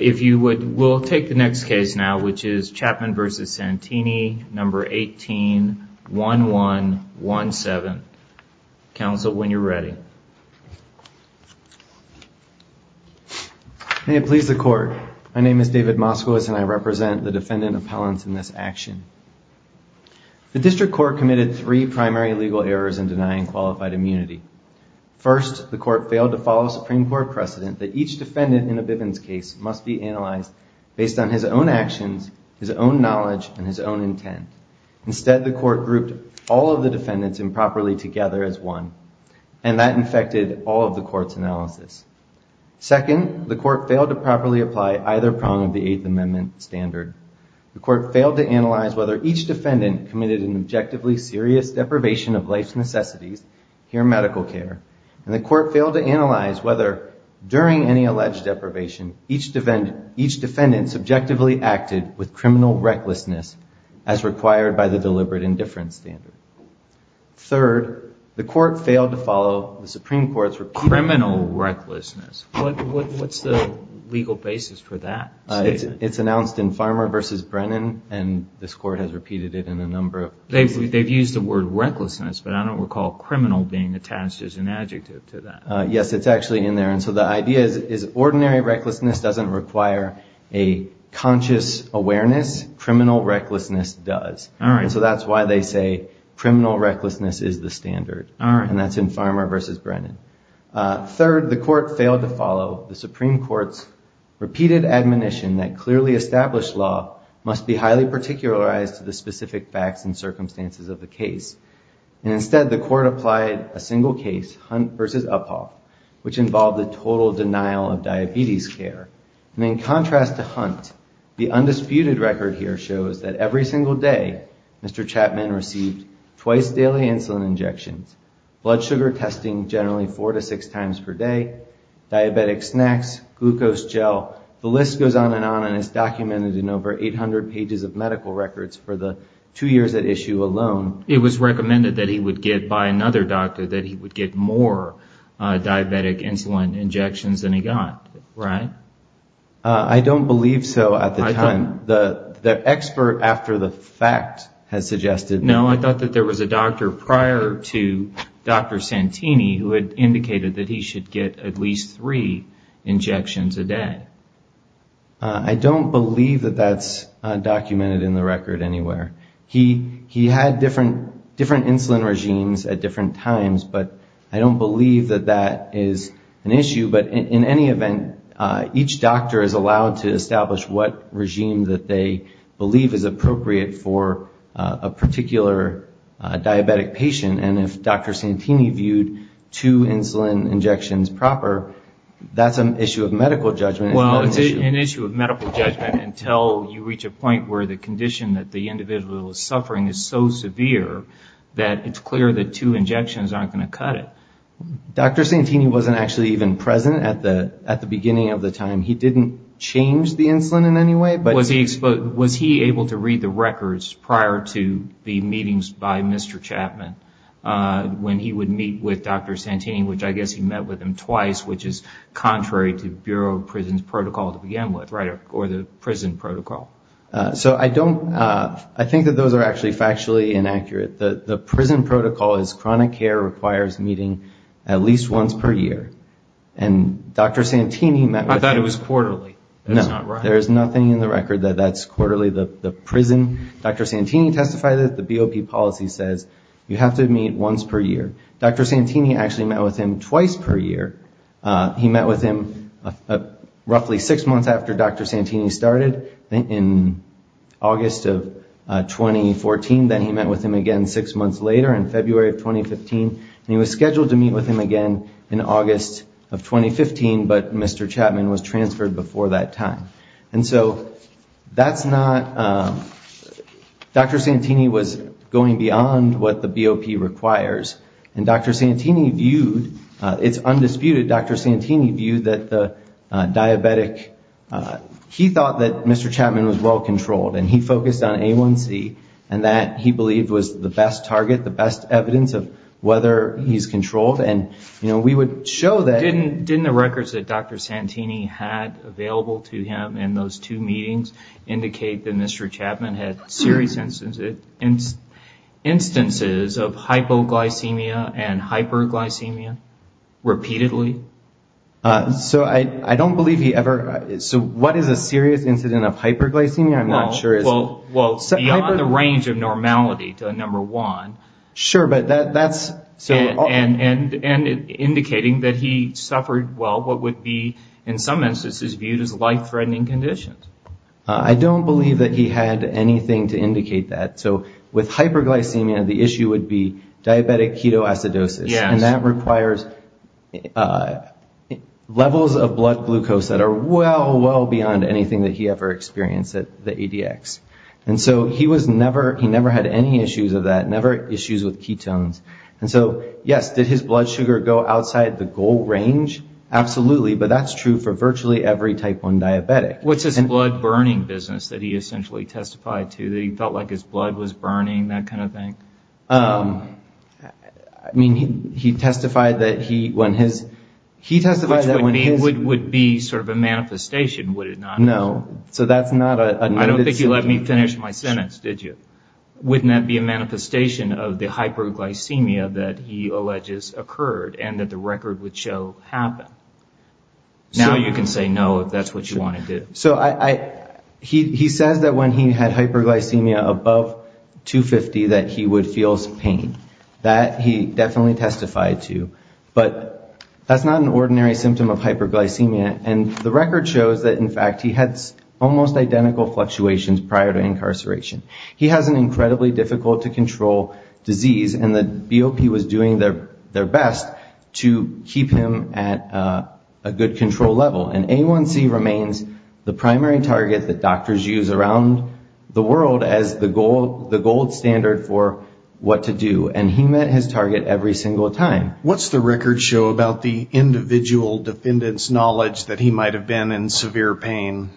If you would, we'll take the next case now, which is Chapman v. Santini, No. 18-1117. Counsel, when you're ready. May it please the Court, my name is David Moskowitz and I represent the defendant appellants in this action. The District Court committed three primary legal errors in denying qualified immunity. First, the Court failed to follow Supreme Court precedent that each defendant in a Bivens case must be analyzed based on his own actions, his own knowledge, and his own intent. Instead, the Court grouped all of the defendants improperly together as one, and that infected all of the Court's analysis. Second, the Court failed to properly apply either prong of the Eighth Amendment standard. The Court failed to analyze whether each defendant committed an objectively serious deprivation of life's necessities, here medical care. And the Court failed to analyze whether, during any alleged deprivation, each defendant subjectively acted with criminal recklessness, as required by the deliberate indifference standard. Third, the Court failed to follow the Supreme Court's rec- Criminal recklessness. What's the legal basis for that statement? It's announced in Farmer v. Brennan, and this Court has repeated it in a number of cases. They've used the word recklessness, but I don't recall criminal being attached as an adjective to that. Yes, it's actually in there, and so the idea is ordinary recklessness doesn't require a conscious awareness, criminal recklessness does. And so that's why they say criminal recklessness is the standard, and that's in Farmer v. Brennan. Third, the Court failed to follow the Supreme Court's repeated admonition that clearly established law must be highly particularized to the specific facts and circumstances of the case. And instead, the Court applied a single case, Hunt v. Uphoff, which involved the total denial of diabetes care. And in contrast to Hunt, the undisputed record here shows that every single day, Mr. Chapman received twice daily insulin injections, blood sugar testing generally four to six times per day, diabetic snacks, glucose gel. The list goes on and on and is documented in over 800 pages of medical records for the two years at issue alone. It was recommended that he would get by another doctor that he would get more diabetic insulin injections than he got, right? I don't believe so at the time. The expert after the fact has suggested... No, I thought that there was a doctor prior to Dr. Santini who had indicated that he should get at least three injections a day. I don't believe that that's documented in the record anywhere. He had different insulin regimes at different times, but I don't believe that that is an issue. But in any event, each doctor is allowed to establish what regime that they believe is appropriate for a particular diabetic patient. And if Dr. Santini viewed two insulin injections proper, that's an issue of medical judgment. Well, it's an issue of medical judgment until you reach a point where the condition that the individual is suffering is so severe, that it's clear that two injections aren't going to cut it. Dr. Santini wasn't actually even present at the beginning of the time. He didn't change the insulin in any way, but... Was he able to read the records prior to the meetings by Mr. Chapman when he would meet with Dr. Santini, which I guess he met with him twice, which is contrary to Bureau of Prisons protocol to begin with, or the prison protocol. So I don't... I think that those are actually factually inaccurate. The prison protocol is chronic care requires meeting at least once per year. And Dr. Santini met with... I thought it was quarterly. That's not right. That's actually the prison. Dr. Santini testified that the BOP policy says you have to meet once per year. Dr. Santini actually met with him twice per year. He met with him roughly six months after Dr. Santini started in August of 2014. Then he met with him again six months later in February of 2015. And he was scheduled to meet with him again in August of 2015, but Mr. Chapman was transferred before that time. And so that's not... Dr. Santini was going beyond what the BOP requires, and Dr. Santini viewed... It's undisputed Dr. Santini viewed that the diabetic... He thought that Mr. Chapman was well controlled, and he focused on A1C, and that he believed was the best target, the best evidence of whether he's controlled. And we would show that... Didn't the records that Dr. Santini had available to him in those two meetings indicate that Mr. Chapman had serious instances of hypoglycemia and hyperglycemia repeatedly? So I don't believe he ever... So what is a serious incident of hyperglycemia? I'm not sure. Well, beyond the range of normality to a number one. Sure, but that's... And indicating that he suffered, well, what would be in some instances viewed as life-threatening conditions. I don't believe that he had anything to indicate that. So with hyperglycemia, the issue would be diabetic ketoacidosis. And that requires levels of blood glucose that are well, well beyond anything that he ever experienced at the ADX. And so he never had any issues of that, never issues with ketones. And so, yes, did his blood sugar go outside the goal range? Absolutely. But that's true for virtually every type one diabetic. What's his blood burning business that he essentially testified to, that he felt like his blood was burning, that kind of thing? I mean, he testified that he, when his... Which would be sort of a manifestation, would it not? No, so that's not a... I don't think you let me finish my sentence, did you? Wouldn't that be a manifestation of the hyperglycemia that he alleges occurred and that the record would show happened? Now you can say no if that's what you want to do. He says that when he had hyperglycemia above 250 that he would feel pain. That he definitely testified to. But that's not an ordinary symptom of hyperglycemia. And the record shows that, in fact, he had almost identical fluctuations prior to incarceration. He has an incredibly difficult to control disease and the BOP was doing their best to keep him at a good control level. And A1C remains the primary target that doctors use around the world as the gold standard for what to do. And he met his target every single time. How do you think that he might have been in severe pain?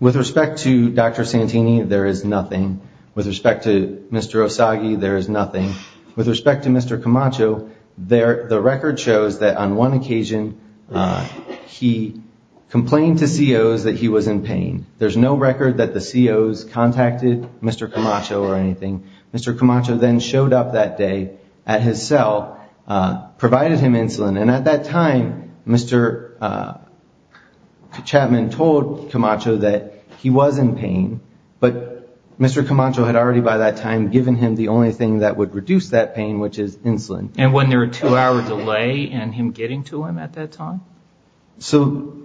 With respect to Dr. Santini, there is nothing. With respect to Mr. Osagie, there is nothing. With respect to Mr. Camacho, the record shows that on one occasion he complained to COs that he was in pain. There's no record that the COs contacted Mr. Camacho or anything. Mr. Camacho then showed up that day at his cell, provided him insulin. And at that time, Mr. Chapman told Camacho that he was in pain. But Mr. Camacho had already by that time given him the only thing that would reduce that pain, which is insulin. And wasn't there a two-hour delay in him getting to him at that time? So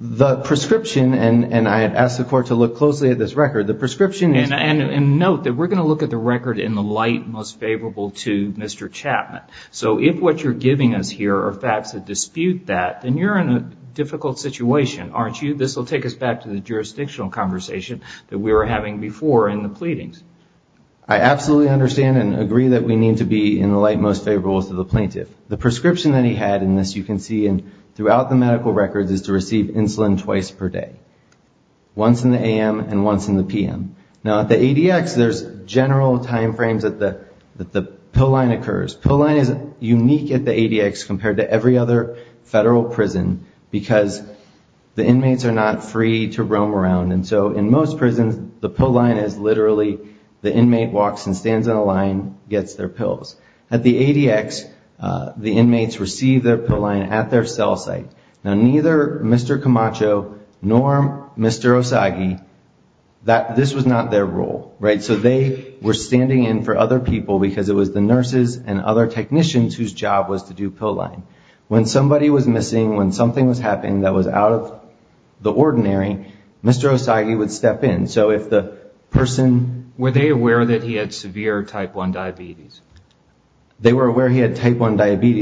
the prescription, and I had asked the court to look closely at this record. And note that we're going to look at the record in the light most favorable to Mr. Chapman. So if what you're giving us here are facts that dispute that, then you're in a difficult situation, aren't you? This will take us back to the jurisdictional conversation that we were having before in the pleadings. I absolutely understand and agree that we need to be in the light most favorable to the plaintiff. The prescription that he had in this, you can see throughout the medical records, is to receive insulin twice per day. Once in the a.m. and once in the p.m. Now at the ADX, there's general time frames that the pill line occurs. Pill line is unique at the ADX compared to every other federal prison, because the inmates are not free to roam around. And so in most prisons, the pill line is literally the inmate walks and stands in a line, gets their pills. At the ADX, the inmates receive their pill line at their cell site. Now neither Mr. Camacho nor Mr. Osagie, this was not their role. So they were standing in for other people because it was the nurses and other technicians whose job was to do pill line. When somebody was missing, when something was happening that was out of the ordinary, Mr. Osagie would step in. So if the person... They were aware he had type 1 diabetes,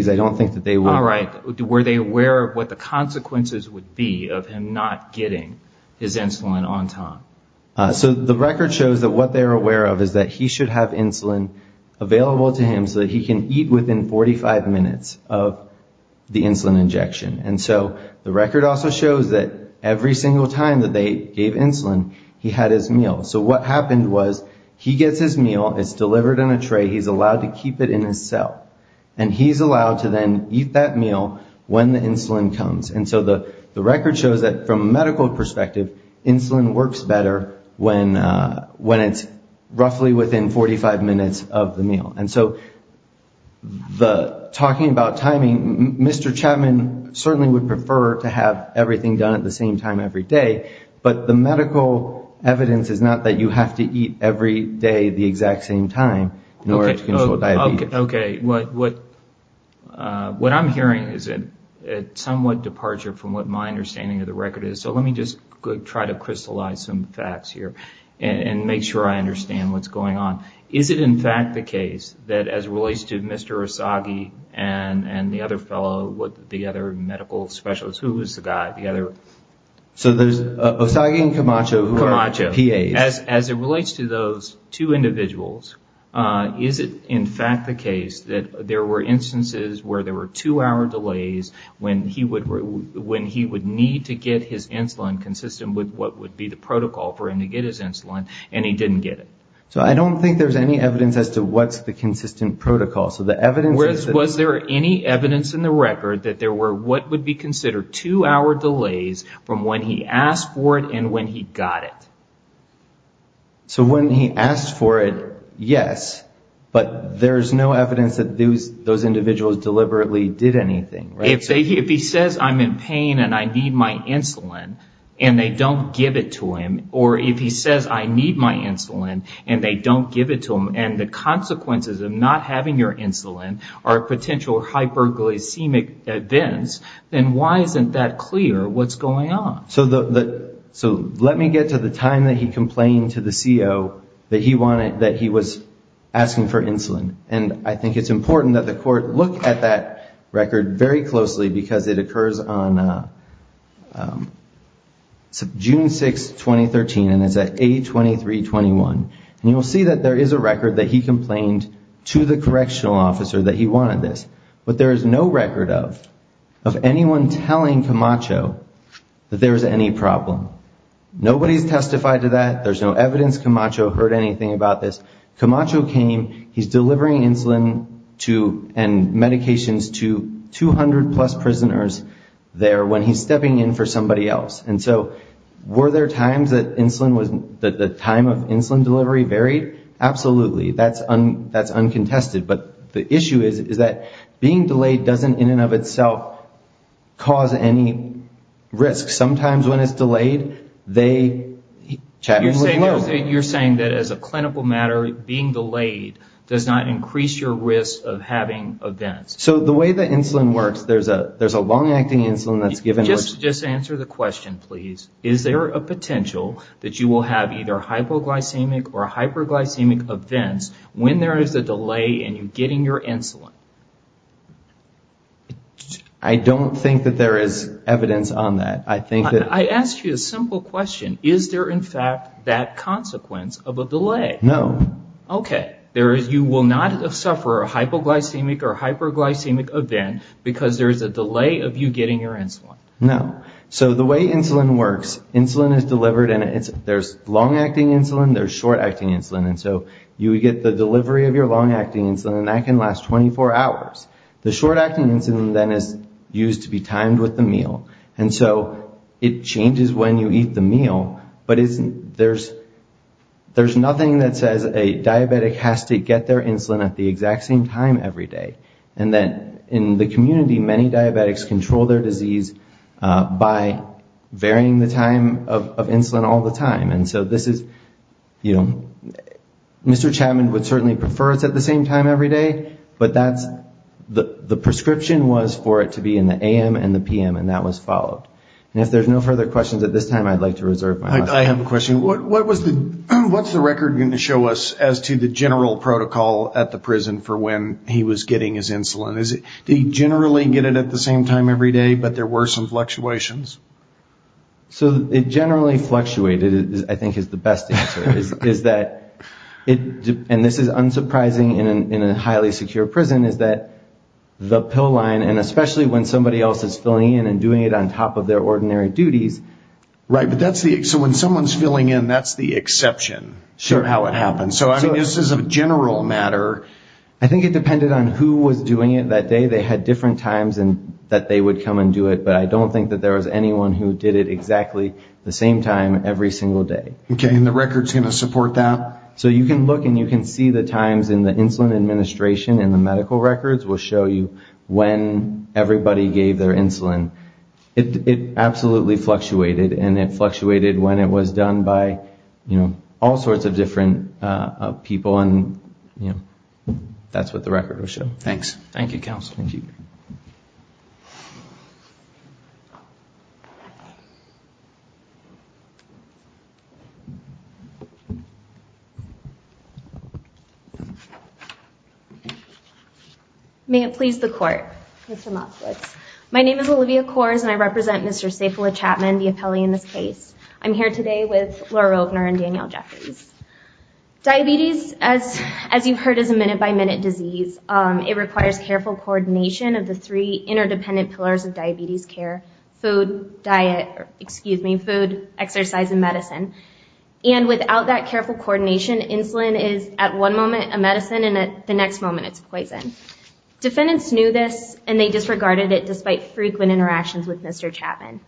I don't think that they would... All right, were they aware of what the consequences would be of him not getting his insulin on time? So the record shows that what they're aware of is that he should have insulin available to him so that he can eat within 45 minutes of the insulin injection. And so the record also shows that every single time that they gave insulin, he had his meal. So what happened was he gets his meal, it's delivered in a tray, he's allowed to keep it in his cell. And he's allowed to then eat that meal when the insulin comes. And so the record shows that from a medical perspective, insulin works better when it's roughly within 45 minutes of the meal. And so talking about timing, Mr. Chapman certainly would prefer to have everything done at the same time every day, but the medical evidence is not that you have to eat every day the exact same time in order to control diabetes. Okay, what I'm hearing is a somewhat departure from what my understanding of the record is. So let me just try to crystallize some facts here and make sure I understand what's going on. Is it in fact the case that as relates to Mr. Osagie and the other fellow, the other medical specialists, who was the guy? So there's Osagie and Camacho who are PAs. As it relates to those two individuals, is it in fact the case that there were instances where there were two-hour delays when he would need to get his insulin consistent with what would be the protocol for him to get his insulin and he didn't get it? So I don't think there's any evidence as to what's the consistent protocol. Was there any evidence in the record that there were what would be considered two-hour delays from when he asked for it and when he got it? So when he asked for it, yes, but there's no evidence that those individuals deliberately did anything, right? If he says, I'm in pain and I need my insulin and they don't give it to him, or if he says, I need my insulin and they don't give it to him, and the consequences of not having your insulin consistent with what would be the protocol, I don't think there's any evidence. If he says, I need my insulin or potential hyperglycemic events, then why isn't that clear what's going on? So let me get to the time that he complained to the CO that he was asking for insulin. And I think it's important that the court look at that record very closely because it occurs on June 6, 2013, and it's at A2321. And you'll see that there is a record that he complained to the correctional officer that he wanted this. But there is no record of anyone telling Camacho that there was any problem. Nobody's testified to that. There's no evidence Camacho heard anything about this. Camacho came, he's delivering insulin and medications to 200-plus prisoners there when he's stepping in for somebody else. And so were there times that the time of insulin delivery varied? Absolutely. That's uncontested. But the issue is that being delayed doesn't in and of itself cause any risk. Sometimes when it's delayed, they... You're saying that as a clinical matter, being delayed does not increase your risk of having events. So the way that insulin works, there's a long-acting insulin that's given... Just answer the question, please. Is there a potential that you will have either hypoglycemic or hyperglycemic events when there is a delay in you getting your insulin? I don't think that there is evidence on that. I asked you a simple question. Is there in fact that consequence of a delay? No. Okay. You will not suffer a hypoglycemic or hyperglycemic event because there is a delay of you getting your insulin. No. So the way insulin works, insulin is delivered and there's long-acting insulin, there's short-acting insulin. And so you would get the delivery of your long-acting insulin and that can last 24 hours. The short-acting insulin then is used to be timed with the meal. And so it changes when you eat the meal, but there's nothing that says a diabetic has to get their insulin at the exact same time every day. And then in the community, many diabetics control their disease by varying the time of insulin all the time. And so this is... The prescription was for it to be in the a.m. and the p.m. and that was followed. And if there's no further questions at this time, I'd like to reserve my time. I have a question. What's the record going to show us as to the general protocol at the prison for when he was getting his insulin? Did he generally get it at the same time every day, but there were some fluctuations? So it generally fluctuated, I think, is the best answer. And this is unsurprising in a highly secure prison is that the pill line, and especially when somebody else is filling in and doing it on top of their ordinary duties... Right, but that's the... So when someone's filling in, that's the exception of how it happens. So I mean, this is a general matter. I think it depended on who was doing it that day. They had different times that they would come and do it, but I don't think that there was anyone who did it exactly the same time every single day. Okay, and the record's going to support that? So you can look and you can see the times in the insulin administration and the medical records will show you when everybody gave their insulin. It absolutely fluctuated, and it fluctuated when it was done by all sorts of different people, and that's what the record will show. Thanks. Thank you, counsel. May it please the court, Mr. Motzowitz. My name is Olivia Kors, and I represent Mr. Saifullah Chapman, the appellee in this case. I'm here today with Laura Rogner and Danielle Jeffries. Diabetes, as you've heard, is a minute-by-minute disease. It requires careful coordination of the three interdependent pillars of diabetes care, food, diet... And without that careful coordination, insulin is, at one moment, a medicine, and at the next moment, it's a poison. Defendants knew this, and they disregarded it despite frequent interactions with Mr. Chapman.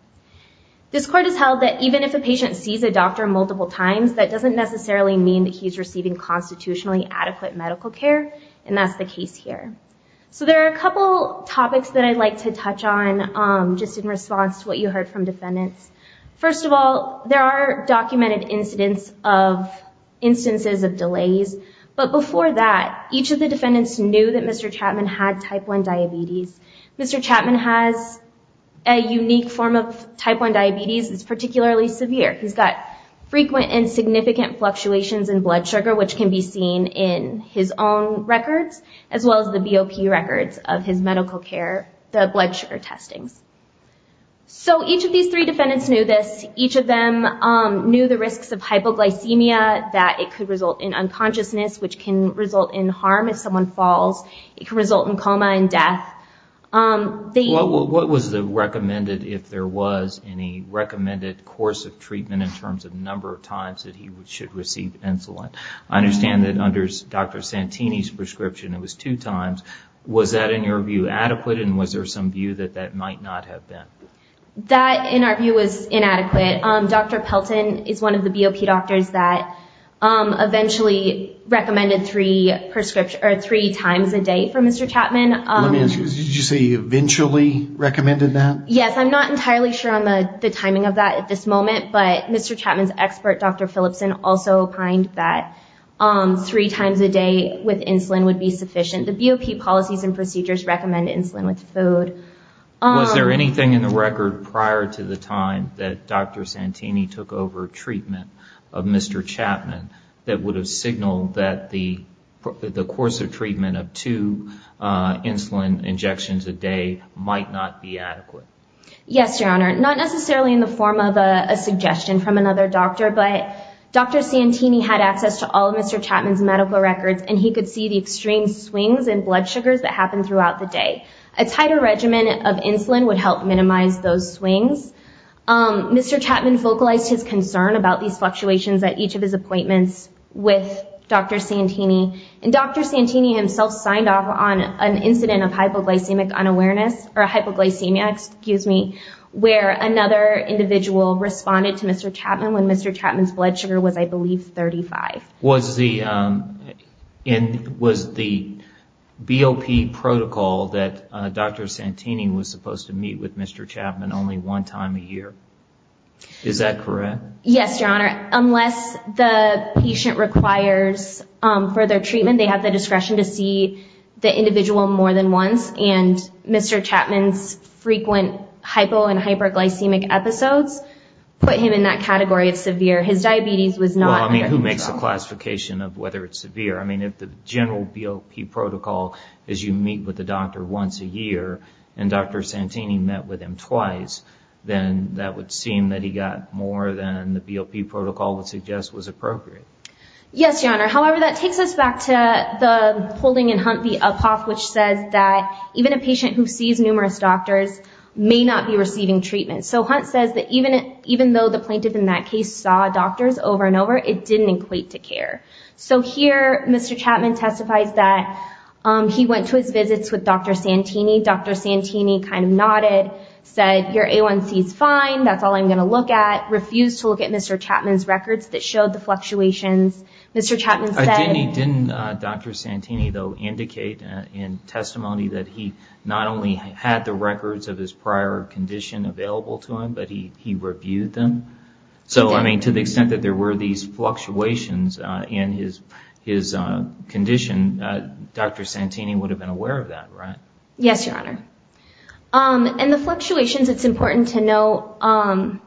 This court has held that even if a patient sees a doctor multiple times, that doesn't necessarily mean that he's receiving constitutionally adequate medical care, and that's the case here. So there are a couple topics that I'd like to touch on just in response to what you heard from defendants. First of all, there are documented instances of delays, but before that, each of the defendants knew that Mr. Chapman had type 1 diabetes. Mr. Chapman has a unique form of type 1 diabetes that's particularly severe. He's got frequent and significant fluctuations in blood sugar, which can be seen in his own records, as well as the BOP records of his medical care, the blood sugar testings. So each of these three defendants knew this. Each of them knew the risks of hypoglycemia, that it could result in unconsciousness, which can result in harm if someone falls. It can result in coma and death. What was recommended if there was any recommended course of treatment in terms of number of times that he should receive insulin? I understand that under Dr. Santini's prescription, it was two times. Was that, in your view, adequate, and was there some view that that might not have been? That, in our view, was inadequate. Dr. Pelton is one of the BOP doctors that eventually recommended three times a day for Mr. Chapman. Did you say eventually recommended that? Yes, I'm not entirely sure on the timing of that at this moment, but Mr. Chapman's expert, Dr. Philipson, also opined that three times a day with insulin would be sufficient. He also said that certain policies and procedures recommend insulin with food. Was there anything in the record prior to the time that Dr. Santini took over treatment of Mr. Chapman that would have signaled that the course of treatment of two insulin injections a day might not be adequate? Yes, Your Honor. Not necessarily in the form of a suggestion from another doctor, but Dr. Santini had access to all of Mr. Chapman's medical records, and he could see the extreme swings in blood sugars that happened throughout the day. A tighter regimen of insulin would help minimize those swings. Mr. Chapman vocalized his concern about these fluctuations at each of his appointments with Dr. Santini, and Dr. Santini himself signed off on an incident of hypoglycemic unawareness, or hypoglycemia, excuse me, where another individual responded to Mr. Chapman when Mr. Chapman's blood sugar was, I believe, 35. Was the BOP protocol that Dr. Santini was supposed to meet with Mr. Chapman only one time a year? Is that correct? Yes, Your Honor. Unless the patient requires further treatment, they have the discretion to see the individual more than once, and Mr. Chapman's frequent hypo- and hyperglycemic episodes put him in that category of severe. His diabetes was not under control. Well, I mean, who makes the classification of whether it's severe? I mean, if the general BOP protocol is you meet with the doctor once a year and Dr. Santini met with him twice, then that would seem that he got more than the BOP protocol would suggest was appropriate. Yes, Your Honor. However, that takes us back to the holding in Hunt v. Uphoff, which says that even a patient who sees numerous doctors may not be receiving treatment. So Hunt says that even though the plaintiff in that case saw doctors over and over, it didn't equate to care. So here, Mr. Chapman testifies that he went to his visits with Dr. Santini. Dr. Santini kind of nodded, said, your A1C is fine, that's all I'm going to look at, refused to look at Mr. Chapman's records that showed the fluctuations. Didn't Dr. Santini, though, indicate in testimony that he not only had the records of his prior condition available to him, but he reviewed them? So, I mean, to the extent that there were these fluctuations in his condition, Dr. Santini would have been aware of that, right? Yes, Your Honor. And the fluctuations, it's important to know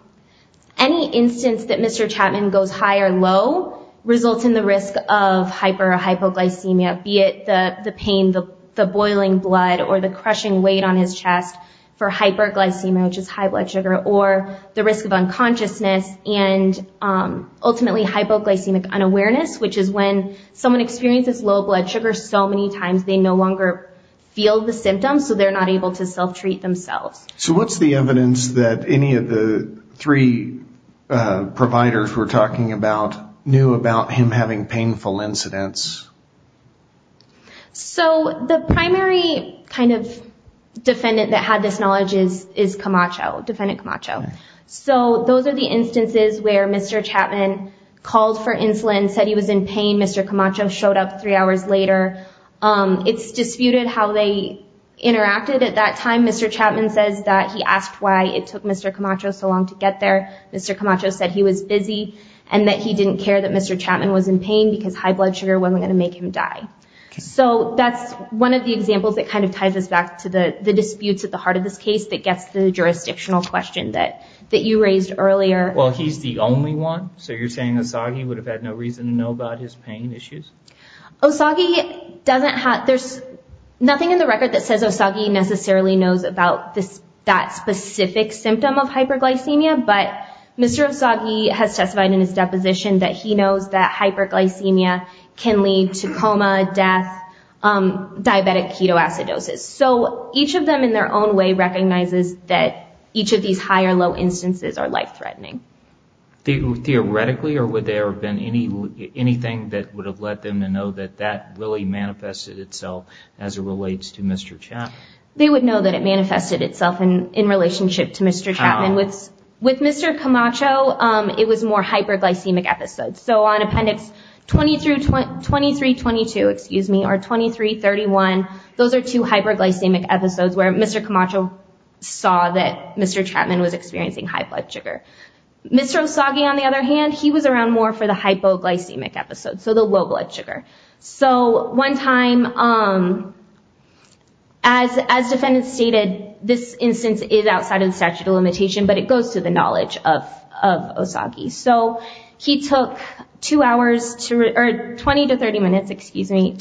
any instance that Mr. Chapman goes high or low results in the risk of hyper or hypoglycemia, be it the pain, the boiling blood or the crushing weight on his chest for hyperglycemia, which is high blood sugar, or the risk of unconsciousness and ultimately hypoglycemic unawareness, which is when someone experiences low blood sugar so many times they no longer feel the symptoms, so they're not able to self-treat themselves. So what's the evidence that any of the three providers we're talking about knew about him having painful incidents? So the primary kind of defendant that had this knowledge is Camacho, defendant Camacho. So those are the instances where Mr. Chapman called for insulin, said he was in pain. Mr. Camacho showed up three hours later. It's disputed how they interacted at that time. Mr. Chapman says that he asked why it took Mr. Camacho so long to get there. Mr. Camacho said he was busy and that he didn't care that Mr. Chapman was in pain because high blood sugar wasn't going to make him die. So that's one of the examples that kind of ties us back to the disputes at the heart of this case that gets the jurisdictional question that you raised earlier. Well, he's the only one, so you're saying Osagie would have had no reason to know about his pain issues? Osagie doesn't have, there's nothing in the record that says Osagie necessarily knows about that specific symptom of hyperglycemia, but Mr. Osagie has testified in his deposition that he knows that hyperglycemia can lead to coma, death, diabetic ketoacidosis. So each of them in their own way recognizes that each of these high or low instances are life-threatening. Theoretically, or would there have been anything that would have let them know that that really manifested itself as it relates to Mr. Chapman? They would know that it manifested itself in relationship to Mr. Chapman. With Mr. Camacho, it was more hyperglycemic episodes. So on appendix 2322, excuse me, or 2331, those are two hyperglycemic episodes where Mr. Camacho saw that Mr. Chapman was experiencing high blood sugar. Mr. Osagie, on the other hand, he was around more for the hypoglycemic episodes, so the low blood sugar. So one time, as defendants stated, this instance is outside of the statute of limitation, but it goes to the knowledge of Osagie. So he took 20 to 30 minutes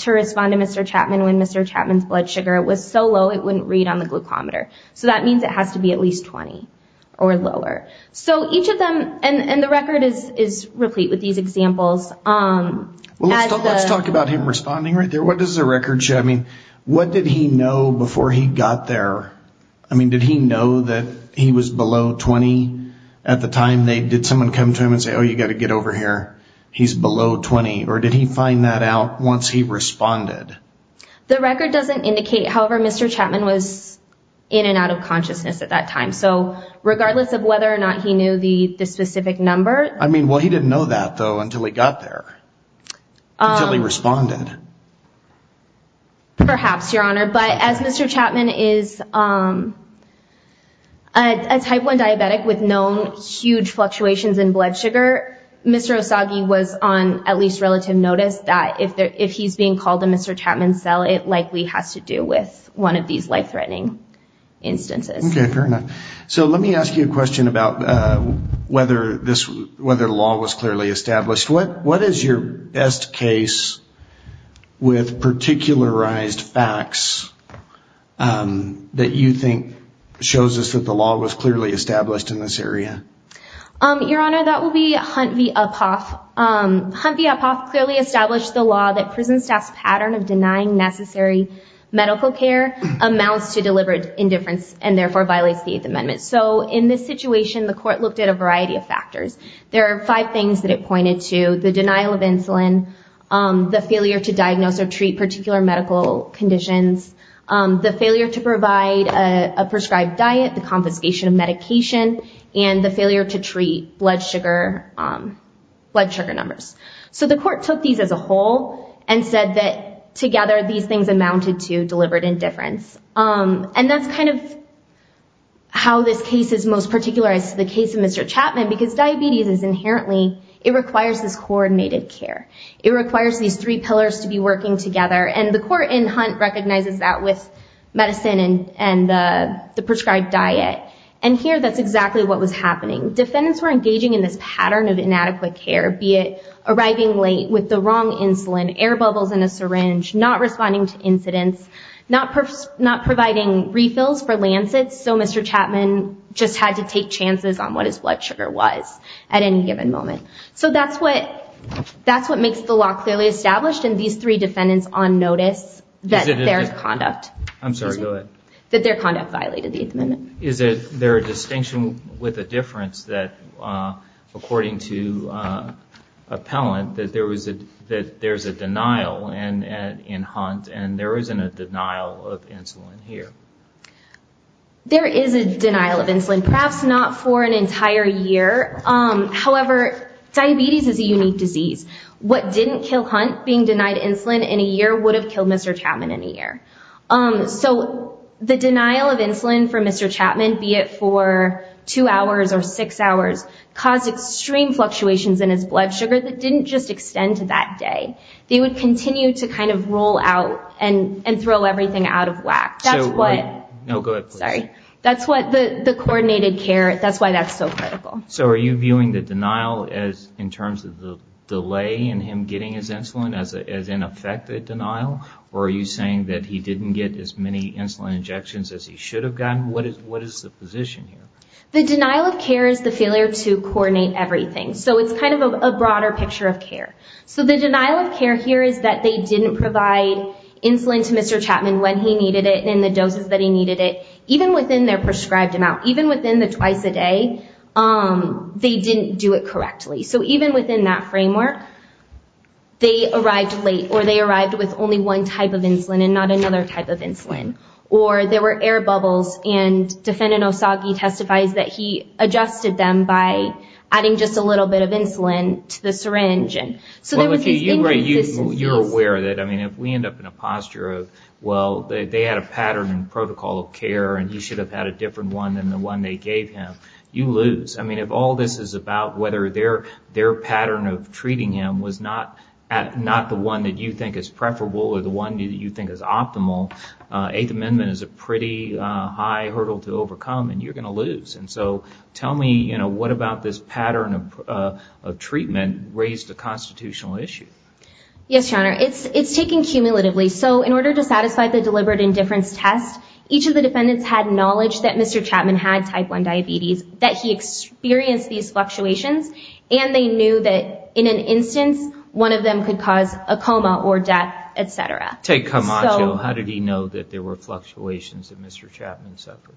to respond to Mr. Chapman when Mr. Chapman's blood sugar was so low it wouldn't read on the glucometer. So that means it has to be at least 20 or lower. And the record is replete with these examples. Let's talk about him responding right there. What does the record show? I mean, what did he know before he got there? I mean, did he know that he was below 20 at the time? Did someone come to him and say, oh, you got to get over here? He's below 20. Or did he find that out once he responded? The record doesn't indicate. However, Mr. Chapman was in and out of consciousness at that time. So regardless of whether or not he knew the specific number... I mean, well, he didn't know that, though, until he got there, until he responded. Perhaps, Your Honor. But as Mr. Chapman is a type 1 diabetic with known huge fluctuations in blood sugar, Mr. Osagie was on at least relative notice that if he's being called in Mr. Chapman's cell, it likely has to do with one of these life-threatening instances. Okay, fair enough. So let me ask you a question about whether the law was clearly established. What is your best case with particularized facts that you think shows us that the law was clearly established in this area? Your Honor, that would be Hunt v. Uphoff. Hunt v. Uphoff clearly established the law that prison staff's pattern of denying necessary evidence to the court and denying necessary medical care amounts to deliberate indifference and therefore violates the Eighth Amendment. So in this situation, the court looked at a variety of factors. There are five things that it pointed to, the denial of insulin, the failure to diagnose or treat particular medical conditions, the failure to provide a prescribed diet, the confiscation of medication, and the failure to treat blood sugar numbers. So the court took these as a whole and said that together these things amounted to deliberate indifference. And that's kind of how this case is most particularized to the case of Mr. Chapman because diabetes is inherently, it requires this coordinated care. It requires these three pillars to be working together. And the court in Hunt recognizes that with medicine and the prescribed diet. Defendants were engaging in this pattern of inadequate care, be it arriving late with the wrong insulin, air bubbles in a syringe, not responding to incidents, not providing refills for Lancet. So Mr. Chapman just had to take chances on what his blood sugar was at any given moment. So that's what makes the law clearly established in these three defendants on notice that their conduct violated the Eighth Amendment. Is there a distinction with a difference that according to appellant that there's a denial in Hunt and there isn't a denial of insulin here? There is a denial of insulin. Perhaps not for an entire year. However, diabetes is a unique disease. What didn't kill Hunt being denied insulin in a year would have killed Mr. Chapman in a year. So the denial of insulin for Mr. Chapman, be it for two hours or six hours, caused extreme fluctuations in his blood sugar that didn't just extend to that day. They would continue to kind of roll out and throw everything out of whack. That's what the coordinated care, that's why that's so critical. So are you viewing the denial in terms of the delay in him getting his insulin as in effect a denial? Or are you saying that he didn't get as many insulin injections as he should have gotten? What is the position here? The denial of care is the failure to coordinate everything. So it's kind of a broader picture of care. So the denial of care here is that they didn't provide insulin to Mr. Chapman when he needed it in the doses that he needed it, even within their prescribed amount, even within the twice a day, they didn't do it correctly. So even within that framework, they arrived late, or they arrived with only one type of insulin and not another type of insulin, or there were air bubbles and Defendant Osagie testifies that he adjusted them by adding just a little bit of insulin to the syringe. You're aware that if we end up in a posture of, well, they had a pattern and protocol of care, and he should have had a different one than the one they gave him, you lose. I mean, if all this is about whether their pattern of treating him was not the one that you think is preferable or the one that you think is optimal, Eighth Amendment is a pretty high hurdle to overcome and you're going to lose. And so tell me, what about this pattern of treatment raised a constitutional issue? Yes, Your Honor, it's taken cumulatively. So in order to satisfy the deliberate indifference test, each of the defendants had knowledge that Mr. Chapman had type 1 diabetes, that he experienced these fluctuations, and they knew that in an instance, one of them could cause a coma or death, etc. Take Camacho, how did he know that there were fluctuations that Mr. Chapman suffered?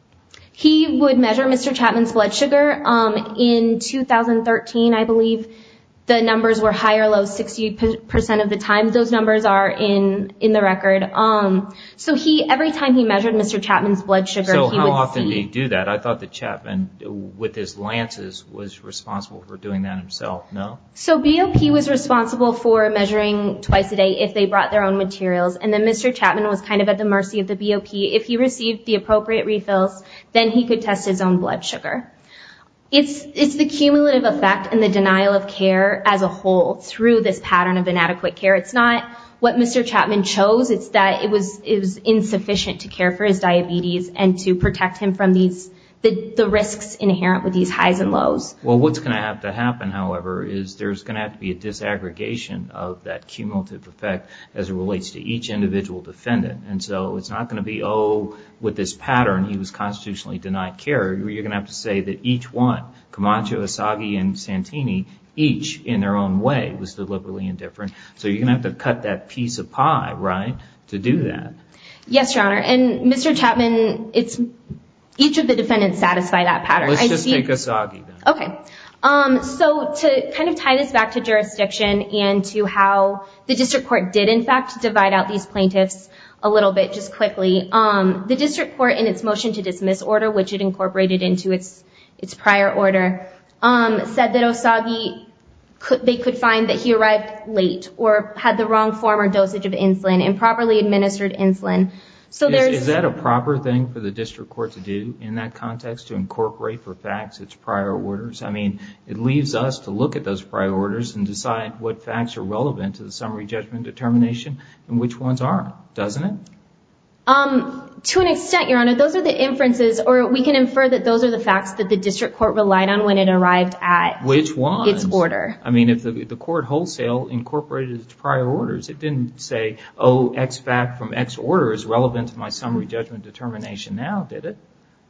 He would measure Mr. Chapman's blood sugar in 2013, I believe. The numbers were high or low, 60% of the time those numbers are in the record. So every time he measured Mr. Chapman's blood sugar, he would see... So how often did he do that? I thought that Chapman, with his lances, was responsible for doing that himself, no? So BOP was responsible for measuring twice a day if they brought their own materials, and then Mr. Chapman was kind of at the mercy of the BOP. If he received the appropriate refills, then he could test his own blood sugar. It's the cumulative effect and the denial of care as a whole through this pattern of inadequate care. It's not what Mr. Chapman chose, it's that it was insufficient to care for his diabetes and to protect him from the risks inherent with these highs and lows. Well, what's going to have to happen, however, is there's going to have to be a disaggregation of that cumulative effect as it relates to each individual defendant. And so it's not going to be, oh, with this pattern, he was constitutionally denied care. You're going to have to say that each one, Camacho, Asagi, and Santini, each in their own way was deliberately indifferent. So you're going to have to cut that piece of pie, right, to do that. Yes, Your Honor, and Mr. Chapman, each of the defendants satisfy that pattern. Let's just take Asagi, then. So to kind of tie this back to jurisdiction and to how the district court did, in fact, divide out these plaintiffs a little bit just quickly, the district court in its motion to dismiss order, which it incorporated into its prior order, said that Asagi, they could find that he arrived late or had the wrong form or dosage of insulin, improperly administered insulin. Is that a proper thing for the district court to do in that context, to incorporate for facts its prior orders? I mean, it leaves us to look at those prior orders and decide what facts are relevant to the summary judgment determination and which ones aren't, doesn't it? To an extent, Your Honor, those are the inferences, or we can infer that those are the facts that the district court relied on when it arrived at its order. I mean, if the court wholesale incorporated its prior orders, it didn't say, oh, X fact from X order is relevant to my summary judgment determination now, did it?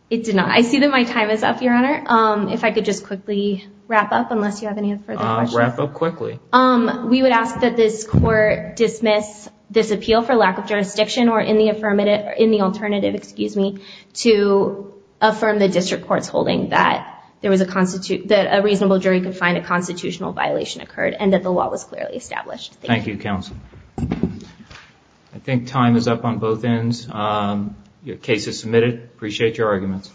It did not. I see that my time is up, Your Honor. If I could just quickly wrap up, unless you have any further questions. Wrap up quickly. We would ask that this court dismiss this appeal for lack of jurisdiction or in the alternative, excuse me, to affirm the district court's holding that a reasonable jury could find a constitutional violation occurred and that the law was clearly established. Thank you. I think time is up on both ends. Your case is submitted. Appreciate your arguments.